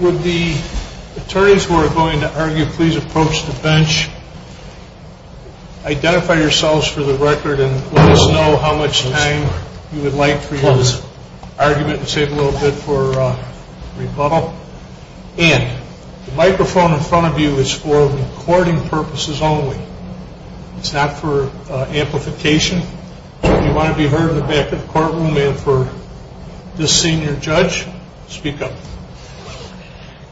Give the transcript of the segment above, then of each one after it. Would the attorneys who are going to argue please approach the bench, identify yourselves for the record and let us know how much time you would like for your argument and save a little bit for rebuttal. And the microphone in front of you is for recording purposes only. It's not for amplification. If you want to be heard in the back of the courtroom and for this senior judge, speak up.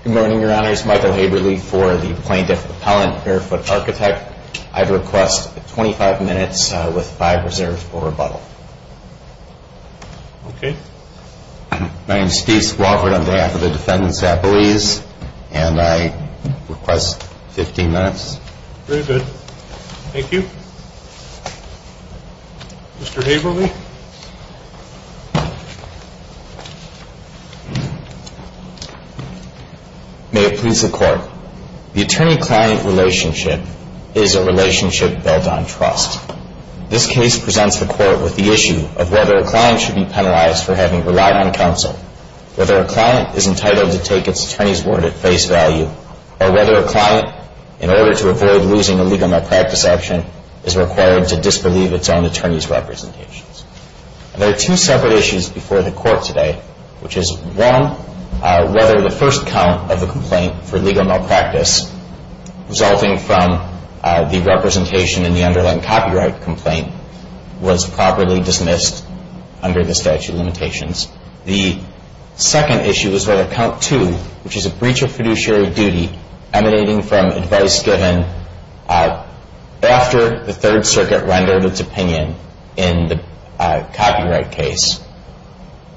Good morning, your honors. Michael Haberle for the Plaintiff Appellant Barefoot Architect. I'd request 25 minutes with 5 reserves for rebuttal. Okay. My name is Steve Squawford on behalf of the defendants at Belize and I request 15 minutes. Very good. Thank you. Mr. Haberle. May it please the Court. The attorney-client relationship is a relationship built on trust. This case presents the Court with the issue of whether a client should be penalized for having relied on counsel, whether a client is entitled to take its attorney's word at face value, or whether a client, in order to avoid losing a legal malpractice action, is required to disbelieve its own attorney's representations. There are two separate issues before the Court today, which is one, whether the first count of the complaint for legal malpractice resulting from the representation in the underlying copyright complaint was properly dismissed under the statute of limitations. The second issue is whether count two, which is a breach of fiduciary duty emanating from advice given after the Third Circuit rendered its opinion in the copyright case,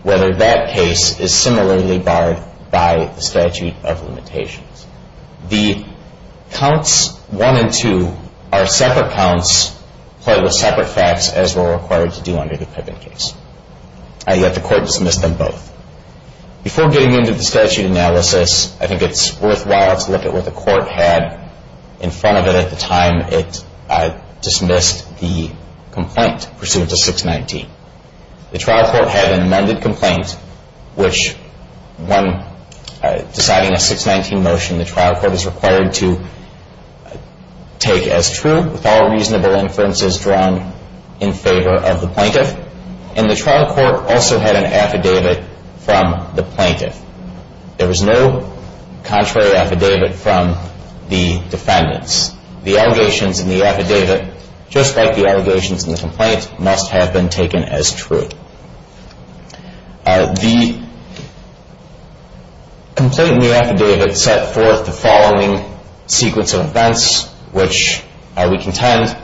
whether that case is similarly barred by the statute of limitations. The counts one and two are separate counts, played with separate facts, as were required to do under the Pippin case. And yet the Court dismissed them both. Before getting into the statute analysis, I think it's worthwhile to look at what the Court had in front of it at the time it dismissed the complaint pursuant to 619. The trial court had an amended complaint which, when deciding a 619 motion, the trial court is required to take as true with all reasonable inferences drawn in favor of the plaintiff. And the trial court also had an affidavit from the plaintiff. There was no contrary affidavit from the defendants. The allegations in the affidavit, just like the allegations in the complaint, must have been taken as true. The complaint in the affidavit set forth the following sequence of events, which we contend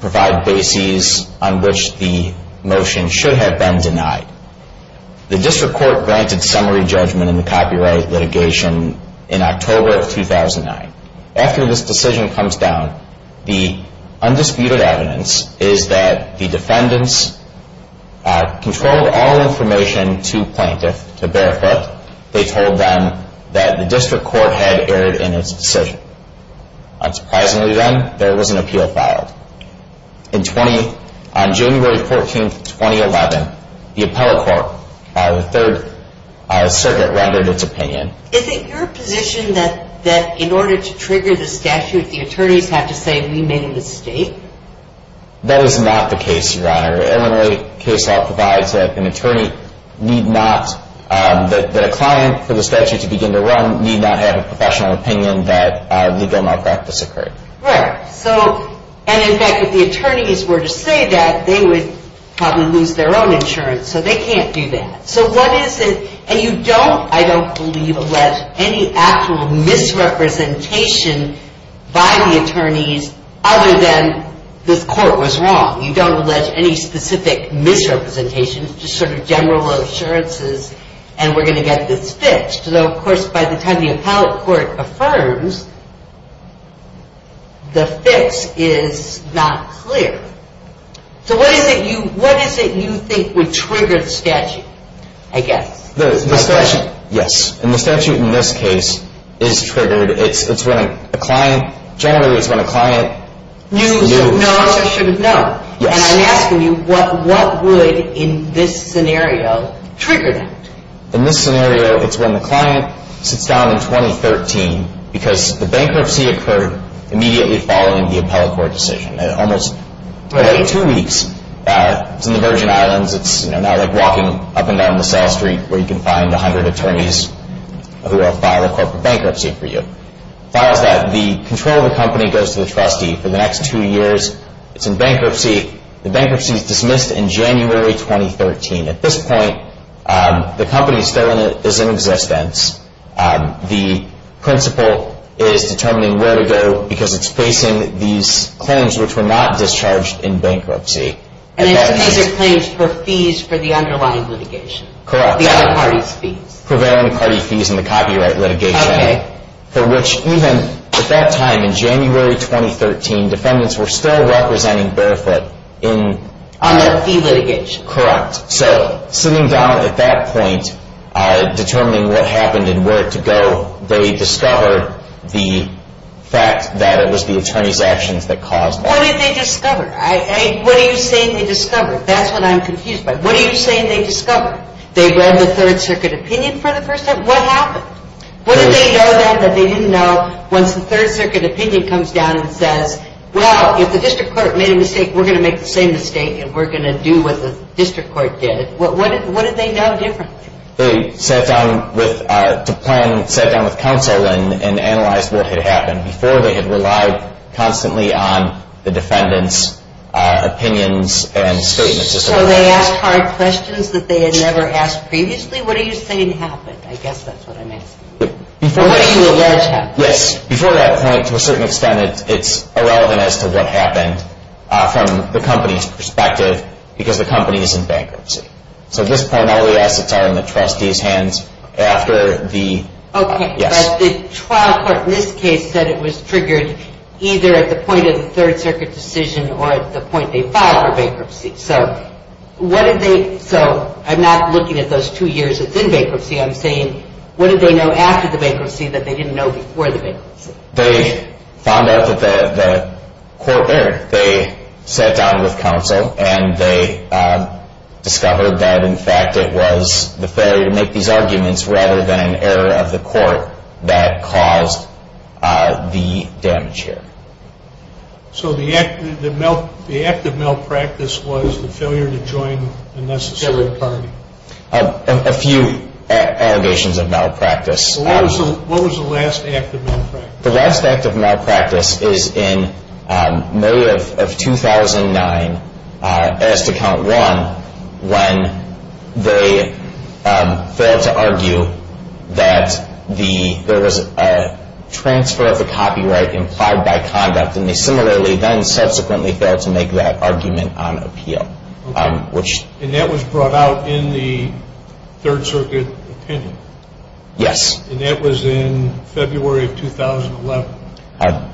provide bases on which the motion should have been denied. The district court granted summary judgment in the copyright litigation in October of 2009. After this decision comes down, the undisputed evidence is that the defendants controlled all information to plaintiff, to Barefoot. They told them that the district court had erred in its decision. Unsurprisingly then, there was an appeal filed. On January 14, 2011, the appellate court, the third circuit, rendered its opinion. Is it your position that in order to trigger the statute, the attorneys have to say, we made a mistake? That is not the case, Your Honor. Illinois case law provides that an attorney need not, that a client for the statute to begin to run, need not have a professional opinion that legal malpractice occurred. And in fact, if the attorneys were to say that, they would probably lose their own insurance, so they can't do that. So what is it, and you don't, I don't believe, allege any actual misrepresentation by the attorneys, other than this court was wrong. You don't allege any specific misrepresentation, just sort of general assurances, and we're going to get this fixed. Though, of course, by the time the appellate court affirms, the fix is not clear. So what is it you, what is it you think would trigger the statute, I guess? The statute, yes. And the statute in this case is triggered, it's when a client, generally it's when a client. You should know, I should have known. Yes. And I'm asking you, what would, in this scenario, trigger that? In this scenario, it's when the client sits down in 2013, because the bankruptcy occurred immediately following the appellate court decision. It almost took two weeks. It's in the Virgin Islands, it's now like walking up and down the cell street where you can find 100 attorneys who will file a corporate bankruptcy for you. Files that. The control of the company goes to the trustee. For the next two years, it's in bankruptcy. The bankruptcy is dismissed in January 2013. At this point, the company is still in existence. The principal is determining where to go because it's facing these claims which were not discharged in bankruptcy. And these are claims for fees for the underlying litigation. Correct. The other party's fees. Prevailing party fees in the copyright litigation. Okay. For which even at that time, in January 2013, defendants were still representing Barefoot in. On their fee litigation. Correct. So sitting down at that point, determining what happened and where to go, they discovered the fact that it was the attorney's actions that caused it. What did they discover? What are you saying they discovered? That's what I'm confused by. What are you saying they discovered? They read the Third Circuit opinion for the first time? What happened? What did they know then that they didn't know once the Third Circuit opinion comes down and says, well, if the district court made a mistake, we're going to make the same mistake and we're going to do what the district court did. What did they know differently? They sat down with counsel and analyzed what had happened before they had relied constantly on the defendant's opinions and statements. So they asked hard questions that they had never asked previously? What are you saying happened? I guess that's what I'm asking. Or what do you allege happened? Yes. Before that point, to a certain extent, it's irrelevant as to what happened from the company's perspective because the company is in bankruptcy. So at this point, all the assets are in the trustee's hands after the yes. Okay. But the trial court in this case said it was triggered either at the point of the Third Circuit decision or at the point they filed for bankruptcy. So what did they – so I'm not looking at those two years within bankruptcy. I'm saying what did they know after the bankruptcy that they didn't know before the bankruptcy? They found out that the court – they sat down with counsel and they discovered that, in fact, it was the failure to make these arguments rather than an error of the court that caused the damage here. So the act of malpractice was the failure to join the necessary party? A few allegations of malpractice. What was the last act of malpractice? The last act of malpractice is in May of 2009, as to count one, when they failed to argue that there was a transfer of the copyright implied by conduct and they similarly then subsequently failed to make that argument on appeal. Okay. And that was brought out in the Third Circuit opinion? Yes. And that was in February of 2011?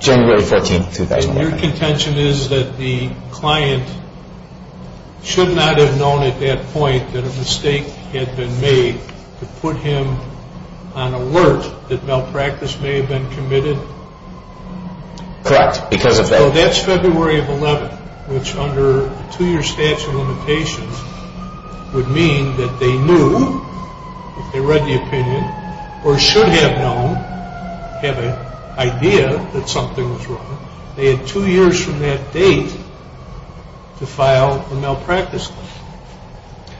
January 14, 2011. And your contention is that the client should not have known at that point that a mistake had been made to put him on alert that malpractice may have been committed? Correct. Because of that – which under a two-year statute of limitations would mean that they knew, if they read the opinion, or should have known, had an idea that something was wrong, they had two years from that date to file a malpractice claim.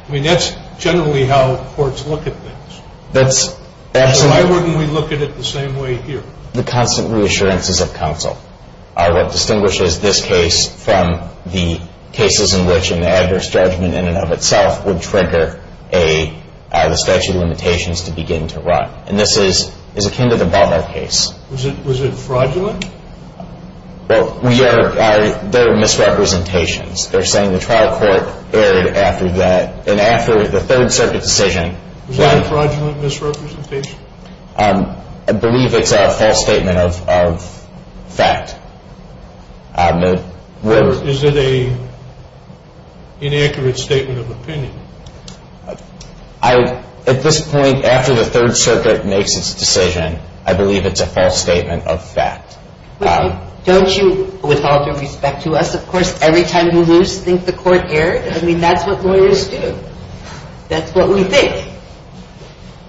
I mean, that's generally how courts look at things. That's absolutely – Why wouldn't we look at it the same way here? The constant reassurances of counsel are what distinguishes this case from the cases in which an adverse judgment in and of itself would trigger the statute of limitations to begin to run. And this is akin to the Ballard case. Was it fraudulent? Well, we are – they're misrepresentations. They're saying the trial court erred after that – and after the Third Circuit decision. Was that a fraudulent misrepresentation? I believe it's a false statement of fact. Is it an inaccurate statement of opinion? At this point, after the Third Circuit makes its decision, I believe it's a false statement of fact. Don't you, with all due respect to us, of course, every time you lose, think the court erred? I mean, that's what lawyers do. That's what we think.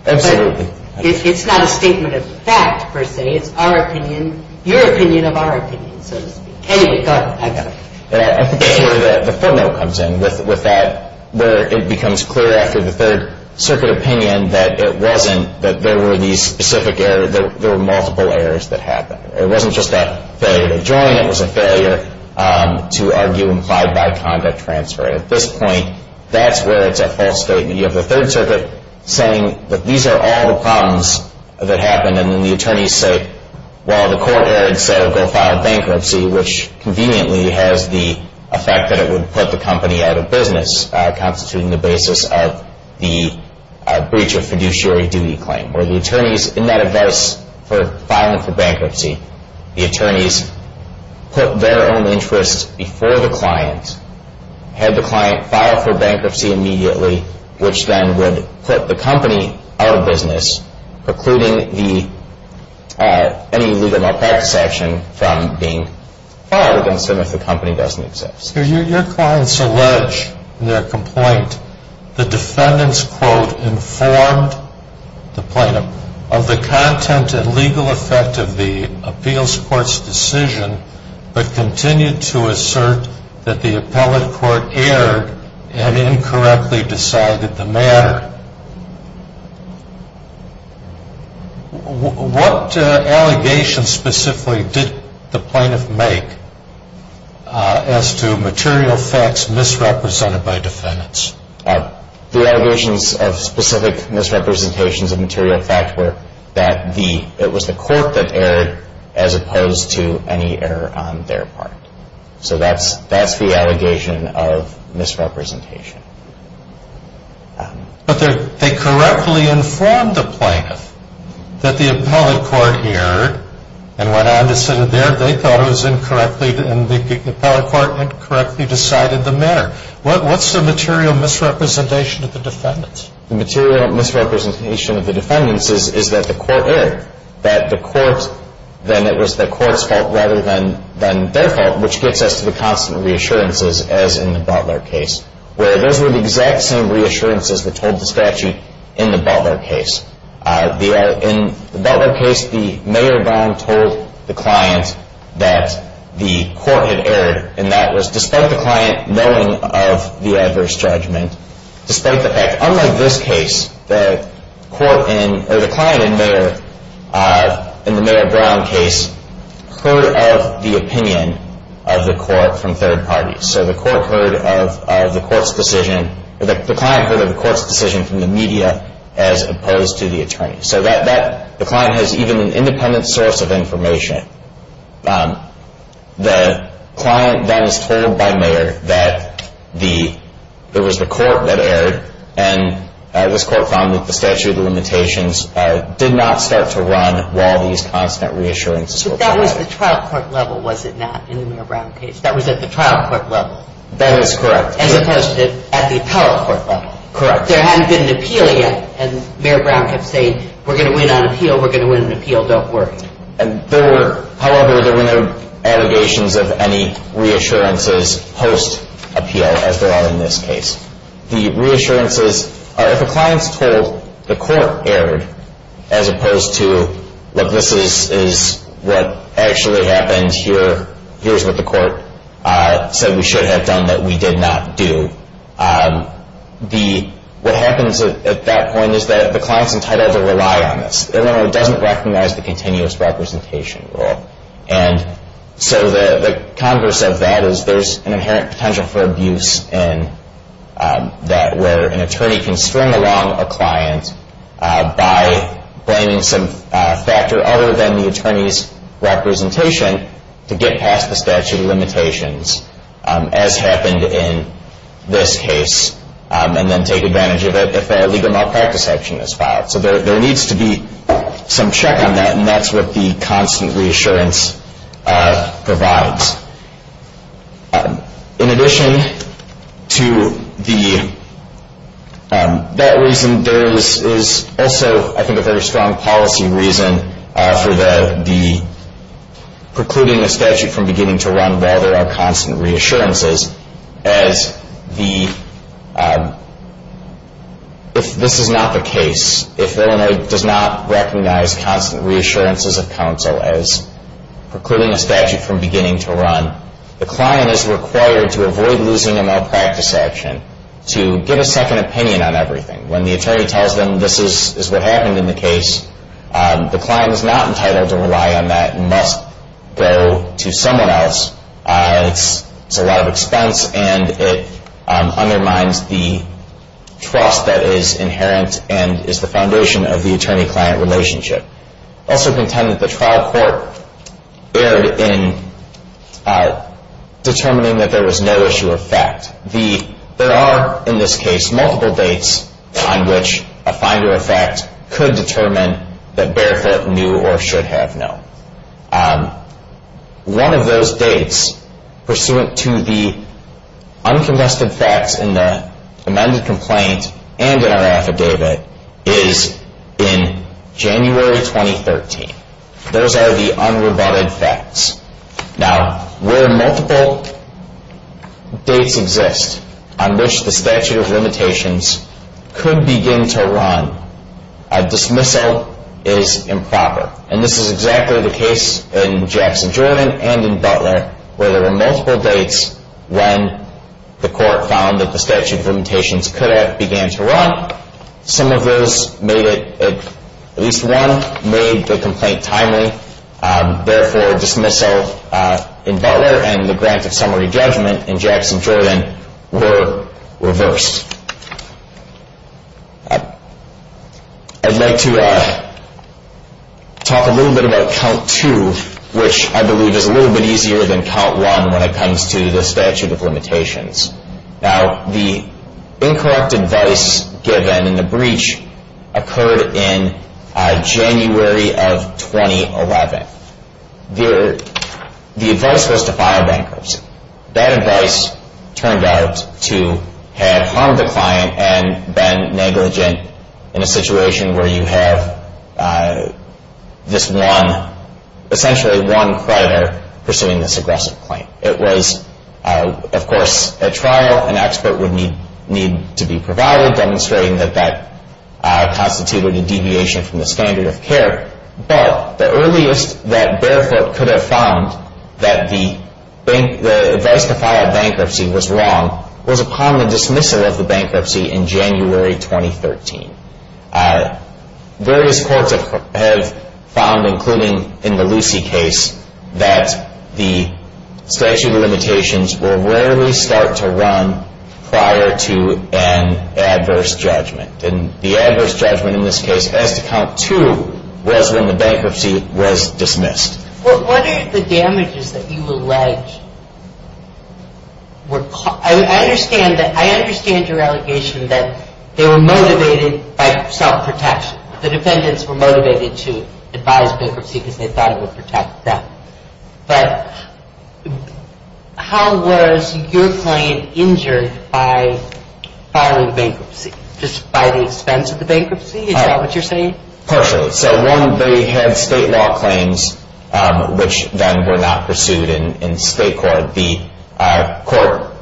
Absolutely. But it's not a statement of fact, per se. It's our opinion – your opinion of our opinion, so to speak. Anyway, go ahead. I got it. I think that's where the footnote comes in with that, where it becomes clear after the Third Circuit opinion that it wasn't – that there were these specific errors – there were multiple errors that happened. It wasn't just that failure to join. It was a failure to argue implied by conduct transfer. At this point, that's where it's a false statement. You have the Third Circuit saying that these are all the problems that happened, and then the attorneys say, well, the court erred, so go file bankruptcy, which conveniently has the effect that it would put the company out of business, constituting the basis of the breach of fiduciary duty claim, where the attorneys, in that advice for filing for bankruptcy, the attorneys put their own interests before the client, had the client file for bankruptcy immediately, which then would put the company out of business, precluding the – any legal malpractice action from being filed against them if the company doesn't exist. Your clients allege in their complaint the defendant's quote informed the plaintiff of the content and legal effect of the appeals court's decision, but continued to assert that the appellate court erred and incorrectly decided the matter. What allegations specifically did the plaintiff make as to material facts misrepresented by defendants? The allegations of specific misrepresentations of material fact were that it was the court that erred as opposed to any error on their part. So that's the allegation of misrepresentation. But they correctly informed the plaintiff that the appellate court erred and went on to say that they thought it was incorrectly – and the appellate court incorrectly decided the matter. What's the material misrepresentation of the defendants? The material misrepresentation of the defendants is that the court erred, that the court – that it was the court's fault rather than their fault, which gets us to the constant reassurances as in the Butler case, where those were the exact same reassurances that told the statute in the Butler case. In the Butler case, the mayor wrong-told the client that the court had erred, and that was despite the client knowing of the adverse judgment, despite the fact, unlike this case, the client in the Mayor Brown case heard of the opinion of the court from third parties. So the client heard of the court's decision from the media as opposed to the attorney. So the client has even an independent source of information. The client then is told by mayor that it was the court that erred, and this court found that the statute of limitations did not start to run while these constant reassurances were applied. But that was the trial court level, was it not, in the Mayor Brown case? That was at the trial court level? That is correct. As opposed to at the appellate court level? Correct. There hadn't been an appeal yet, and Mayor Brown kept saying, we're going to win on appeal, we're going to win on appeal, don't worry. However, there were no allegations of any reassurances post-appeal, as there are in this case. The reassurances are if a client's told the court erred as opposed to, look, this is what actually happened here, here's what the court said we should have done that we did not do, what happens at that point is that the client's entitled to rely on this. It doesn't recognize the continuous representation rule. And so the converse of that is there's an inherent potential for abuse in that, where an attorney can string along a client by blaming some factor other than the attorney's representation to get past the statute of limitations, as happened in this case, and then take advantage of it if a legal malpractice action is filed. So there needs to be some check on that, and that's what the constant reassurance provides. In addition to that reason, there is also, I think, a very strong policy reason for the precluding a statute from beginning to run while there are constant reassurances, as if this is not the case, if Illinois does not recognize constant reassurances of counsel as precluding a statute from beginning to run, the client is required to avoid losing a malpractice action, to give a second opinion on everything. When the attorney tells them this is what happened in the case, the client is not entitled to rely on that and must go to someone else. It's a lot of expense, and it undermines the trust that is inherent and is the foundation of the attorney-client relationship. Also contend that the trial court erred in determining that there was no issue of fact. There are, in this case, multiple dates on which a finder of fact could determine that Barefoot knew or should have known. One of those dates, pursuant to the unconvested facts in the amended complaint and in our affidavit, is in January 2013. Those are the unrebutted facts. Now, where multiple dates exist on which the statute of limitations could begin to run, a dismissal is improper. And this is exactly the case in Jackson-Jordan and in Butler, where there were multiple dates when the court found that the statute of limitations could have began to run. Some of those made it, at least one, made the complaint timely. Therefore, dismissal in Butler and the grant of summary judgment in Jackson-Jordan were reversed. I'd like to talk a little bit about Count 2, which I believe is a little bit easier than Count 1 when it comes to the statute of limitations. Now, the incorrect advice given in the breach occurred in January of 2011. The advice was to file bankruptcy. That advice turned out to have harmed the client and been negligent in a situation where you have this one, essentially one creditor pursuing this aggressive claim. It was, of course, a trial. An expert would need to be provided, demonstrating that that constituted a deviation from the standard of care. But the earliest that Barefoot could have found that the advice to file bankruptcy was wrong was upon the dismissal of the bankruptcy in January 2013. Various courts have found, including in the Lucy case, that the statute of limitations will rarely start to run prior to an adverse judgment. And the adverse judgment in this case, as to Count 2, was when the bankruptcy was dismissed. Well, what are the damages that you allege were caused? I understand your allegation that they were motivated by self-protection. The defendants were motivated to advise bankruptcy because they thought it would protect them. But how was your client injured by filing bankruptcy? Just by the expense of the bankruptcy? Is that what you're saying? Partially. So, one, they had state law claims, which then were not pursued in state court. The court,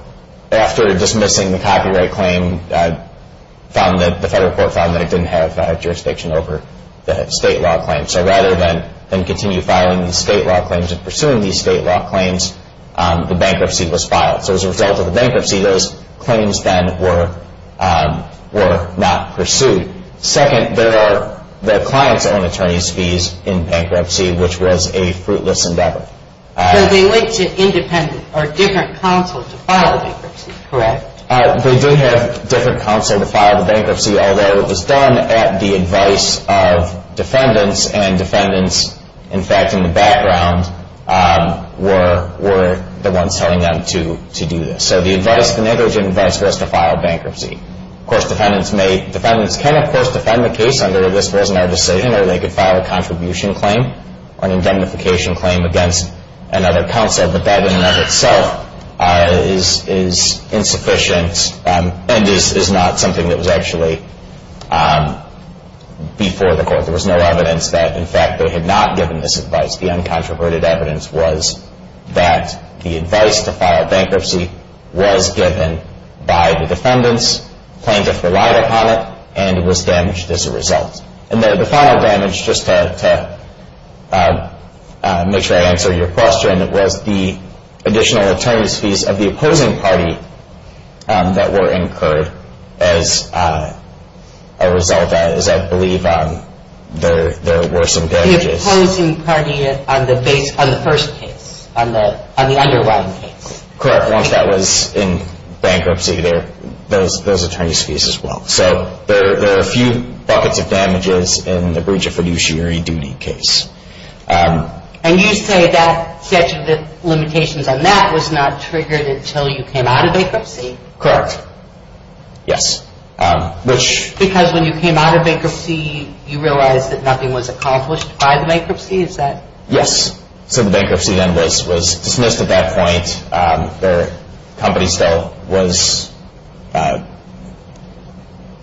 after dismissing the copyright claim, found that the federal court found that it didn't have jurisdiction over the state law claim. So rather than continue filing the state law claims and pursuing these state law claims, the bankruptcy was filed. So as a result of the bankruptcy, those claims then were not pursued. Second, there are the client's own attorney's fees in bankruptcy, which was a fruitless endeavor. So they went to independent or different counsel to file bankruptcy, correct? Although it was done at the advice of defendants, and defendants, in fact, in the background, were the ones telling them to do this. So the negligent advice was to file bankruptcy. Of course, defendants can, of course, defend the case under, if this wasn't our decision, or they could file a contribution claim or an indemnification claim against another counsel. But that in and of itself is insufficient and is not something that was actually before the court. There was no evidence that, in fact, they had not given this advice. The uncontroverted evidence was that the advice to file bankruptcy was given by the defendants. Plaintiffs relied upon it, and it was damaged as a result. And the final damage, just to make sure I answer your question, was the additional attorney's fees of the opposing party that were incurred as a result, as I believe there were some damages. The opposing party on the first case, on the underlying case. Correct, once that was in bankruptcy, those attorney's fees as well. So there are a few buckets of damages in the breach of fiduciary duty case. And you say that statute of limitations on that was not triggered until you came out of bankruptcy? Correct. Yes. Because when you came out of bankruptcy, you realized that nothing was accomplished by the bankruptcy? Yes. So the bankruptcy then was dismissed at that point. The company still was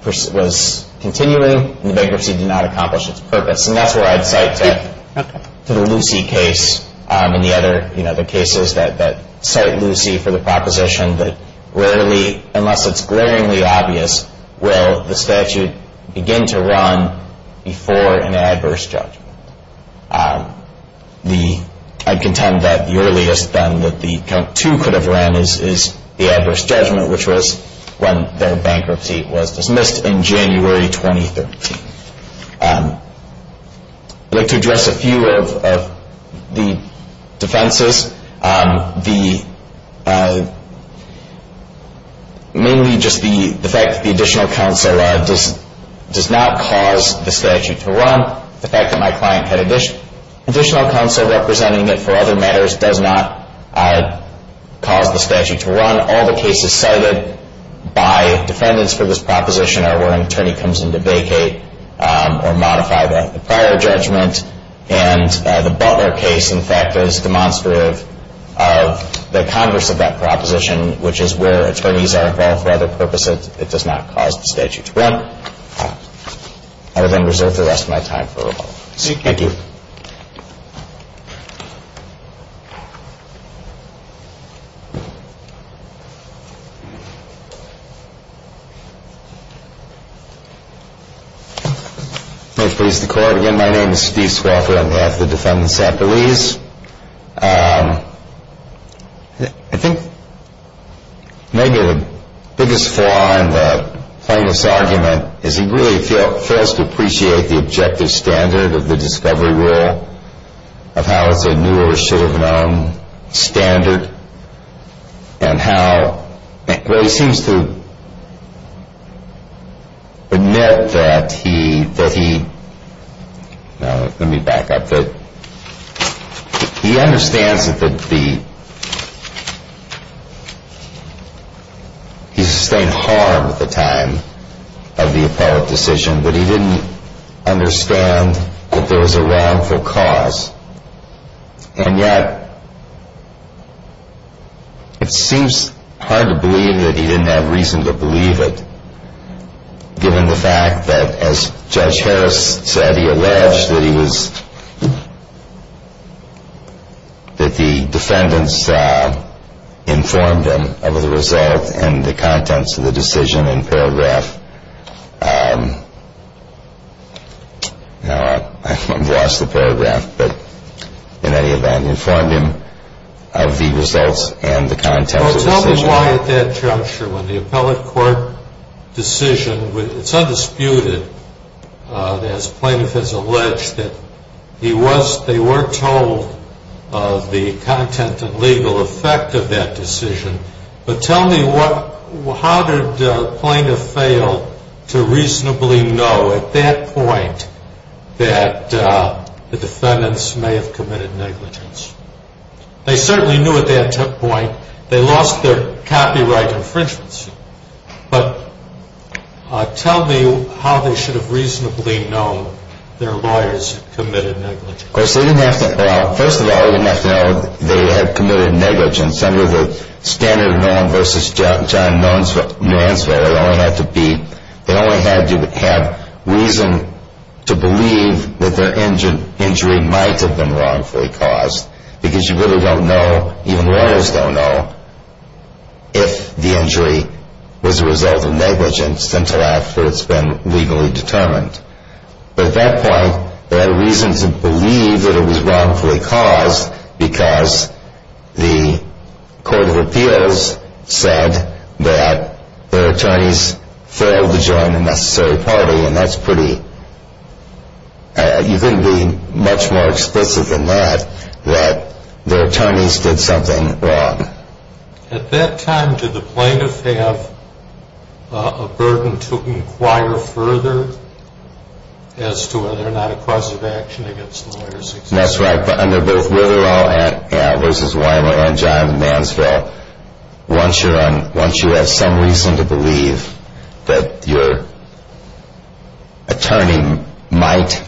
continuing, and the bankruptcy did not accomplish its purpose. And that's where I'd cite to the Lucy case and the other cases that cite Lucy for the proposition that rarely, unless it's glaringly obvious, will the statute begin to run before an adverse judgment. I contend that the earliest then that the count two could have ran is the adverse judgment, which was when their bankruptcy was dismissed in January 2013. I'd like to address a few of the defenses. Mainly just the fact that the additional counsel does not cause the statute to run. The fact that my client had additional counsel representing it for other matters does not cause the statute to run. All the cases cited by defendants for this proposition are where an attorney comes in to vacate or modify the prior judgment. And the Butler case, in fact, is demonstrative of the converse of that proposition, which is where attorneys are involved for other purposes. It does not cause the statute to run. I will then reserve the rest of my time for rebuttals. Thank you. May it please the Court. Again, my name is Steve Swafford. I'm half of the defendants at Belize. I think maybe the biggest flaw in the plaintiff's argument is he really fails to appreciate the objective standard of the discovery rule, of how it's a new or should have known standard, and how he seems to admit that he, let me back up, that he understands that he sustained harm at the time of the appellate decision, but he didn't understand that there was a wrongful cause. And yet, it seems hard to believe that he didn't have reason to believe it, given the fact that, as Judge Harris said, he alleged that he was, that the defendants informed him of the result and the contents of the decision in paragraph, I've lost the paragraph, but in any event, informed him of the results and the contents of the decision. So tell me why at that juncture, when the appellate court decision, it's undisputed, as plaintiff has alleged that he was, they were told of the content and legal effect of that decision, but tell me how did the plaintiff fail to reasonably know at that point that the defendants may have committed negligence? They certainly knew at that point, they lost their copyright infringements, but tell me how they should have reasonably known their lawyers had committed negligence? Of course, they didn't have to, well, first of all, they didn't have to know they had committed negligence. Under the standard of knowing versus not knowing, they only had to be, they only had to have reason to believe that their injury might have been wrongfully caused, because you really don't know, even lawyers don't know, if the injury was a result of negligence until after it's been legally determined. But at that point, they had a reason to believe that it was wrongfully caused, because the court of appeals said that their attorneys failed to join the necessary party, and that's pretty, you couldn't be much more explicit than that, that their attorneys did something wrong. At that time, did the plaintiff have a burden to inquire further as to whether or not a cause of action against the lawyers existed? And that's right, but under both Witterow v. Weimer and John Mansville, once you have some reason to believe that your attorney might,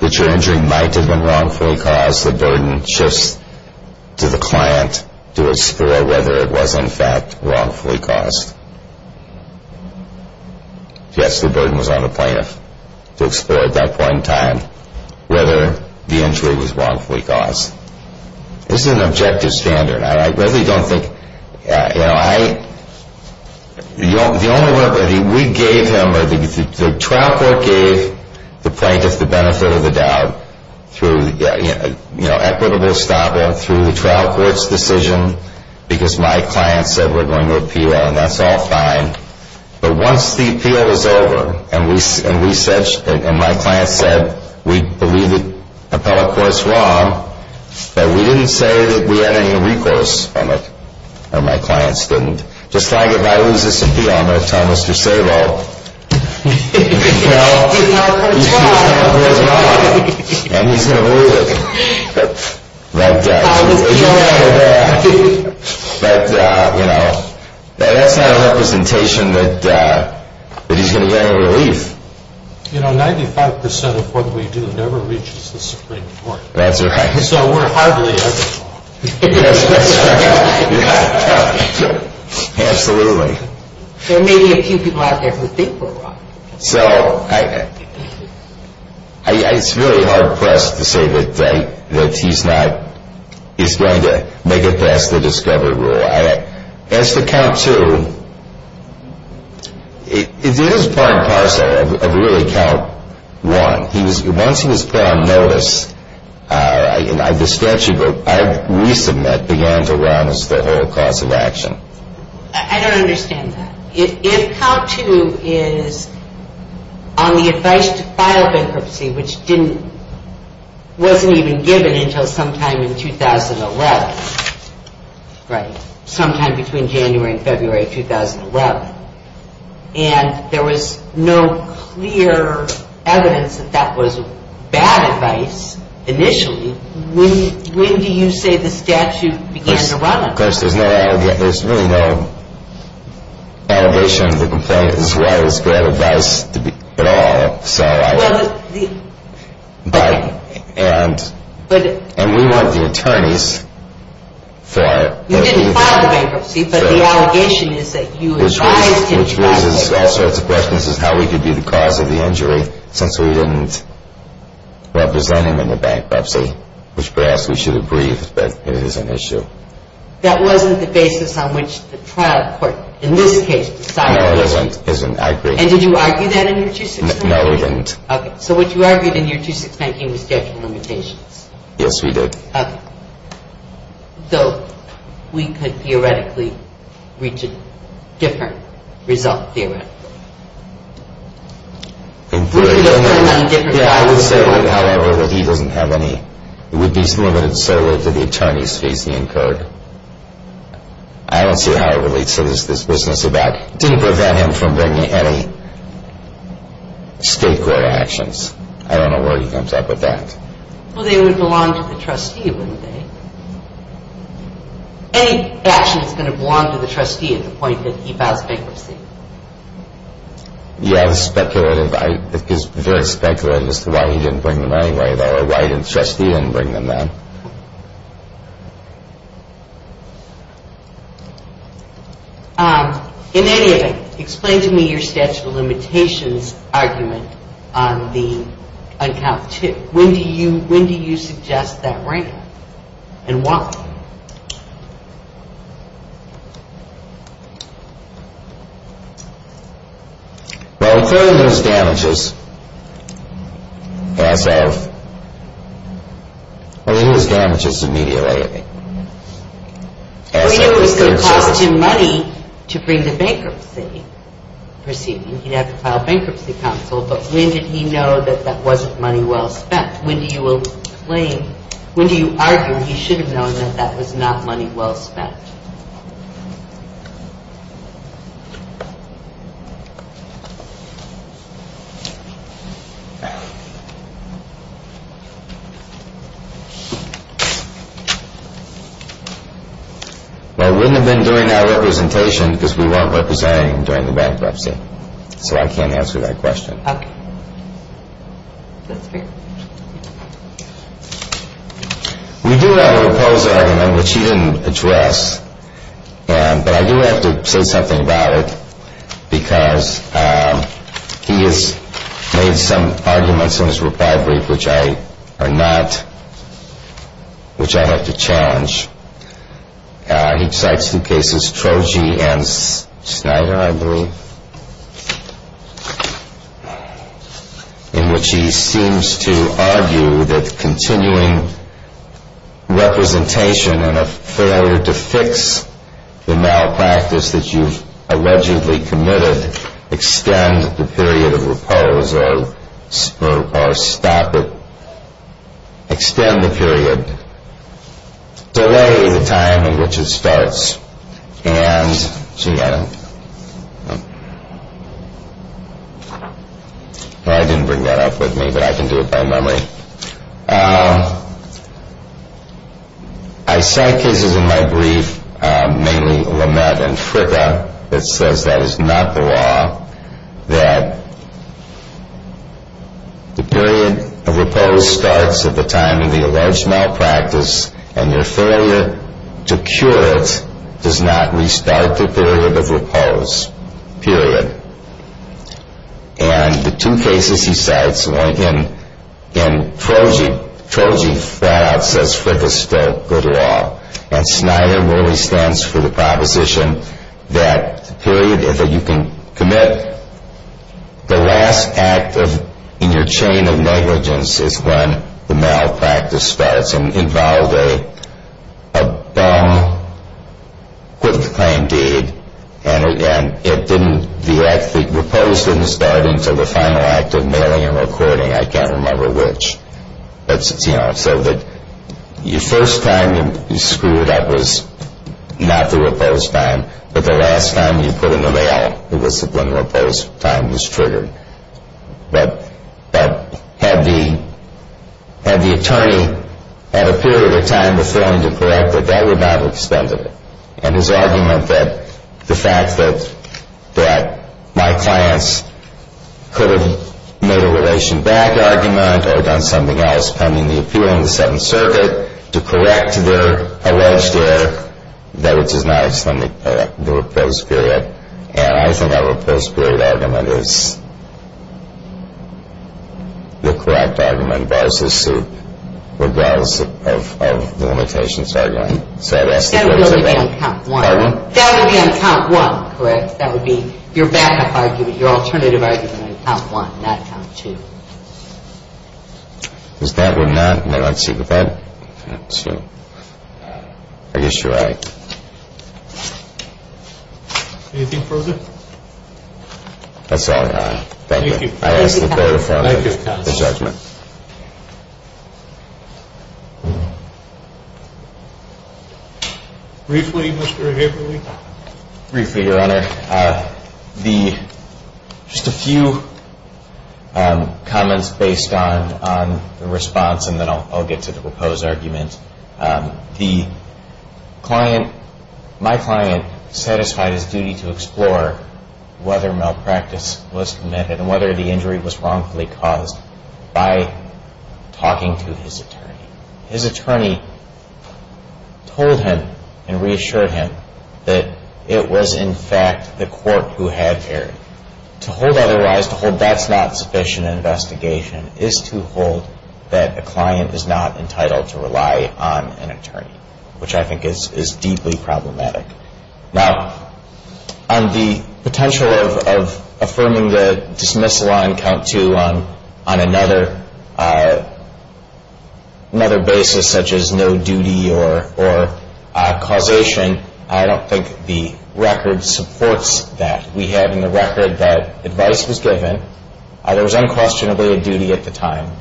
that your injury might have been wrongfully caused, the burden shifts to the client to explore whether it was, in fact, wrongfully caused. Yes, the burden was on the plaintiff to explore at that point in time whether the injury was wrongfully caused. This is an objective standard. I really don't think, you know, I, the only way, we gave him, the trial court gave the plaintiff the benefit of the doubt through, you know, equitable stopping through the trial court's decision, because my client said, we're going to appeal, and that's all fine. But once the appeal was over, and we said, and my client said, we believe the appellate court's wrong, that we didn't say that we had any recourse from it, or my clients didn't. Just like if I lose this appeal, I'm going to tell Mr. Sabo, that, you know, that's not a representation that he's going to get any relief. You know, 95% of what we do never reaches the Supreme Court. That's right. So we're hardly ever wrong. Yes, that's right. Absolutely. There may be a few people out there who think we're wrong. So I, it's really hard pressed to say that he's not, he's going to make it past the discovery rule. As to count two, it is part and parcel of really count one. Once he was put on notice, I distress you, but we submit began to round us the whole course of action. I don't understand that. If count two is on the advice to file bankruptcy, which didn't, wasn't even given until sometime in 2011, right, sometime between January and February 2011, and there was no clear evidence that that was bad advice initially, when do you say the statute began to round us? Well, of course, there's no, there's really no allegation to the complaint as to why it was bad advice at all. So I, and we want the attorneys for it. You didn't file the bankruptcy, but the allegation is that you advised him to file it. Which raises all sorts of questions as to how we could be the cause of the injury, since we didn't represent him in the bankruptcy, which perhaps we should agree that it is an issue. That wasn't the basis on which the trial court, in this case, decided the issue. No, it isn't, I agree. And did you argue that in your 2619? No, we didn't. Okay, so what you argued in your 2619 was statute of limitations. Yes, we did. Okay. Though we could theoretically reach a different result, theoretically. I would say, however, that he doesn't have any, it would be limited solely to the attorney's case he incurred. I don't see how it relates to this business about, didn't prevent him from bringing any state court actions. I don't know where he comes up with that. Well, they would belong to the trustee, wouldn't they? Any action is going to belong to the trustee at the point that he files bankruptcy. Yeah, this is speculative. It is very speculative as to why he didn't bring them anyway, though, or why the trustee didn't bring them then. In any event, explain to me your statute of limitations argument on the uncounted tip. When do you suggest that rank and why? Well, he incurred those damages as of, I think it was damages immediately, as of his third term. Well, you know, it would cost him money to bring the bankruptcy proceeding. He'd have to file bankruptcy counsel, but when did he know that that wasn't money well spent? When do you claim, when do you argue he should have known that that was not money well spent? Well, it wouldn't have been during our representation because we weren't representing him during the bankruptcy. So I can't answer that question. OK. We do have a proposal, which he didn't address. But I do have to say something about it because he has made some arguments in his reply brief, which I are not, which I have to challenge. He cites two cases, Troji and Snyder, I believe, in which he seems to argue that continuing representation and a failure to fix the malpractice that you've allegedly committed extend the period of repose or stop it, extend the period. Delay the time in which it starts. And she got it. I didn't bring that up with me, but I can do it by memory. I cite cases in my brief, mainly Lamed and Fricka, that says that is not the law, that the period of repose starts at the time of the alleged malpractice and your failure to cure it does not restart the period of repose, period. And the two cases he cites, again, Troji flat out says Fricka's still good law. And Snyder really stands for the proposition that the period that you can commit the last act in your chain of negligence is when the malpractice starts. And involved a dumb, quick-to-claim deed, and it didn't, the act, the repose didn't start until the final act of mailing and recording. I can't remember which. That's, you know, so that your first time you screwed up was not the repose time, but the last time you put in the mail, it was when the repose time was triggered. But had the attorney had a period of time before him to correct it, that would not have extended it. And his argument that the fact that my clients could have made a relation back argument or done something else pending the appeal in the Seventh Circuit to correct their alleged error, that would just not have extended the repose period. And I think our repose period argument is the correct argument, regardless of the limitations of the argument. That would be on count one, correct? That would be your backup argument, your alternative argument on count one, not count two. Is that or not? I guess you're right. Anything further? That's all, Your Honor. Thank you. Thank you, counsel. I ask the court to form the judgment. Briefly, Mr. Haberle. Briefly, Your Honor. Just a few comments based on the response, and then I'll get to the repose argument. My client satisfied his duty to explore whether malpractice was committed and whether the injury was wrongfully caused by talking to his attorney. His attorney told him and reassured him that it was, in fact, the court who had erred. To hold otherwise, to hold that's not sufficient investigation is to hold that a client is not entitled to rely on an attorney, which I think is deeply problematic. Now, on the potential of affirming the dismissal on count two on another basis such as no duty or causation, I don't think the record supports that. We have in the record that advice was given. There was unquestionably a duty at the time.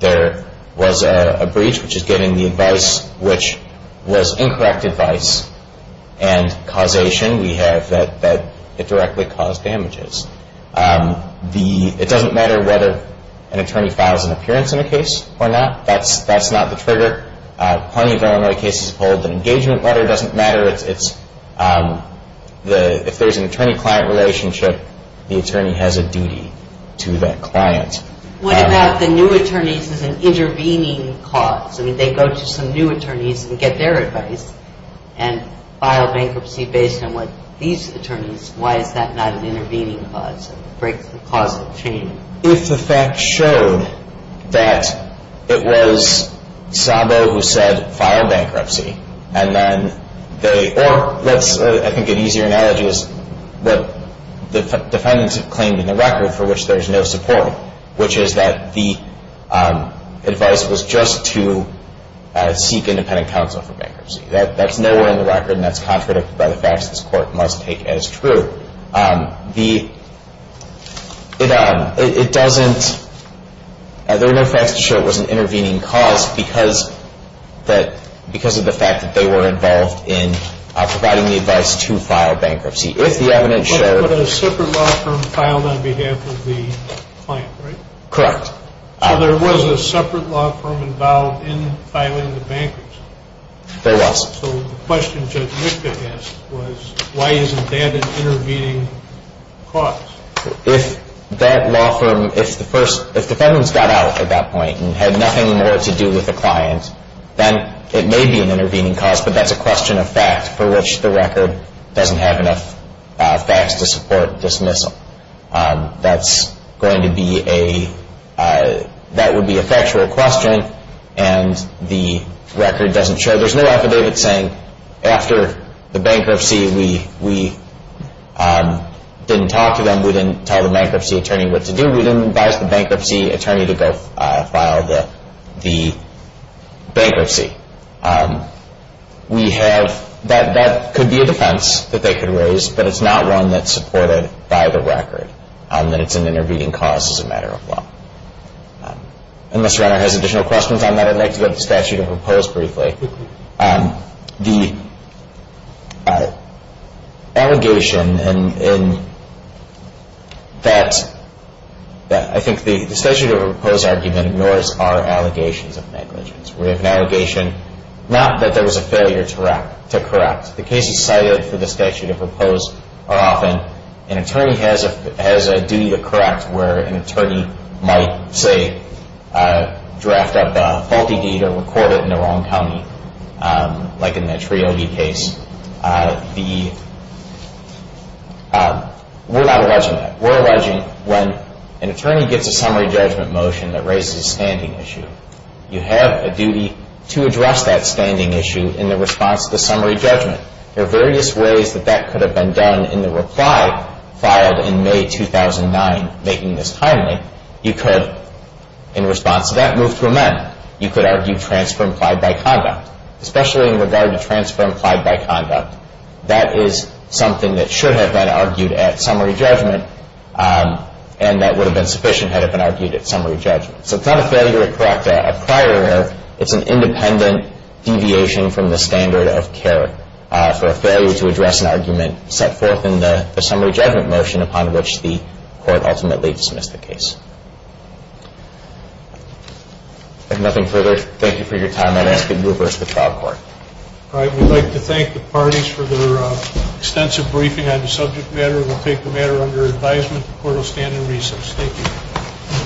There was a breach, which is getting the advice, which was incorrect advice, and causation we have that it directly caused damages. It doesn't matter whether an attorney files an appearance in a case or not. That's not the trigger. Plenty of Illinois cases hold that engagement letter doesn't matter. If there's an attorney-client relationship, the attorney has a duty to that client. What about the new attorneys as an intervening cause? I mean, they go to some new attorneys and get their advice and file bankruptcy based on what these attorneys, why is that not an intervening cause? If the facts showed that it was Szabo who said file bankruptcy, and then they, or let's, I think an easier analogy is what the defendants have claimed in the record for which there's no support, which is that the advice was just to seek independent counsel for bankruptcy. That's nowhere in the record, and that's contradicted by the facts this Court must take as true. The, it doesn't, there are no facts to show it was an intervening cause because that, because of the fact that they were involved in providing the advice to file bankruptcy. If the evidence showed. But there was a separate law firm filed on behalf of the client, right? Correct. So there was a separate law firm involved in filing the bankruptcy? There was. So the question Judge Mikta asked was why isn't that an intervening cause? If that law firm, if the first, if defendants got out at that point and had nothing more to do with the client, then it may be an intervening cause, but that's a question of fact for which the record doesn't have enough facts to support dismissal. That's going to be a, that would be a factual question, and the record doesn't show. So there's no affidavit saying after the bankruptcy we didn't talk to them, we didn't tell the bankruptcy attorney what to do, we didn't advise the bankruptcy attorney to go file the bankruptcy. We have, that could be a defense that they could raise, but it's not one that's supported by the record, that it's an intervening cause as a matter of law. And Mr. Renner has additional questions on that. I'd like to go to the statute of repose briefly. The allegation in that, I think the statute of repose argument ignores our allegations of negligence. We have an allegation not that there was a failure to correct. The cases cited for the statute of repose are often an attorney has a duty to correct where an attorney might, say, draft up a faulty deed or record it in the wrong county, like in that Triogui case. We're not alleging that. We're alleging when an attorney gets a summary judgment motion that raises a standing issue, you have a duty to address that standing issue in the response to the summary judgment. There are various ways that that could have been done in the reply filed in May 2009, making this timely. You could, in response to that, move to amend. You could argue transfer implied by conduct, especially in regard to transfer implied by conduct. That is something that should have been argued at summary judgment, and that would have been sufficient had it been argued at summary judgment. So it's not a failure to correct a prior error. It's an independent deviation from the standard of care for a failure to address an argument set forth in the summary judgment motion upon which the court ultimately dismissed the case. If nothing further, thank you for your time. I'd ask you to reverse the trial court. All right. We'd like to thank the parties for their extensive briefing on the subject matter. We'll take the matter under advisement. The court will stand in recess. Thank you.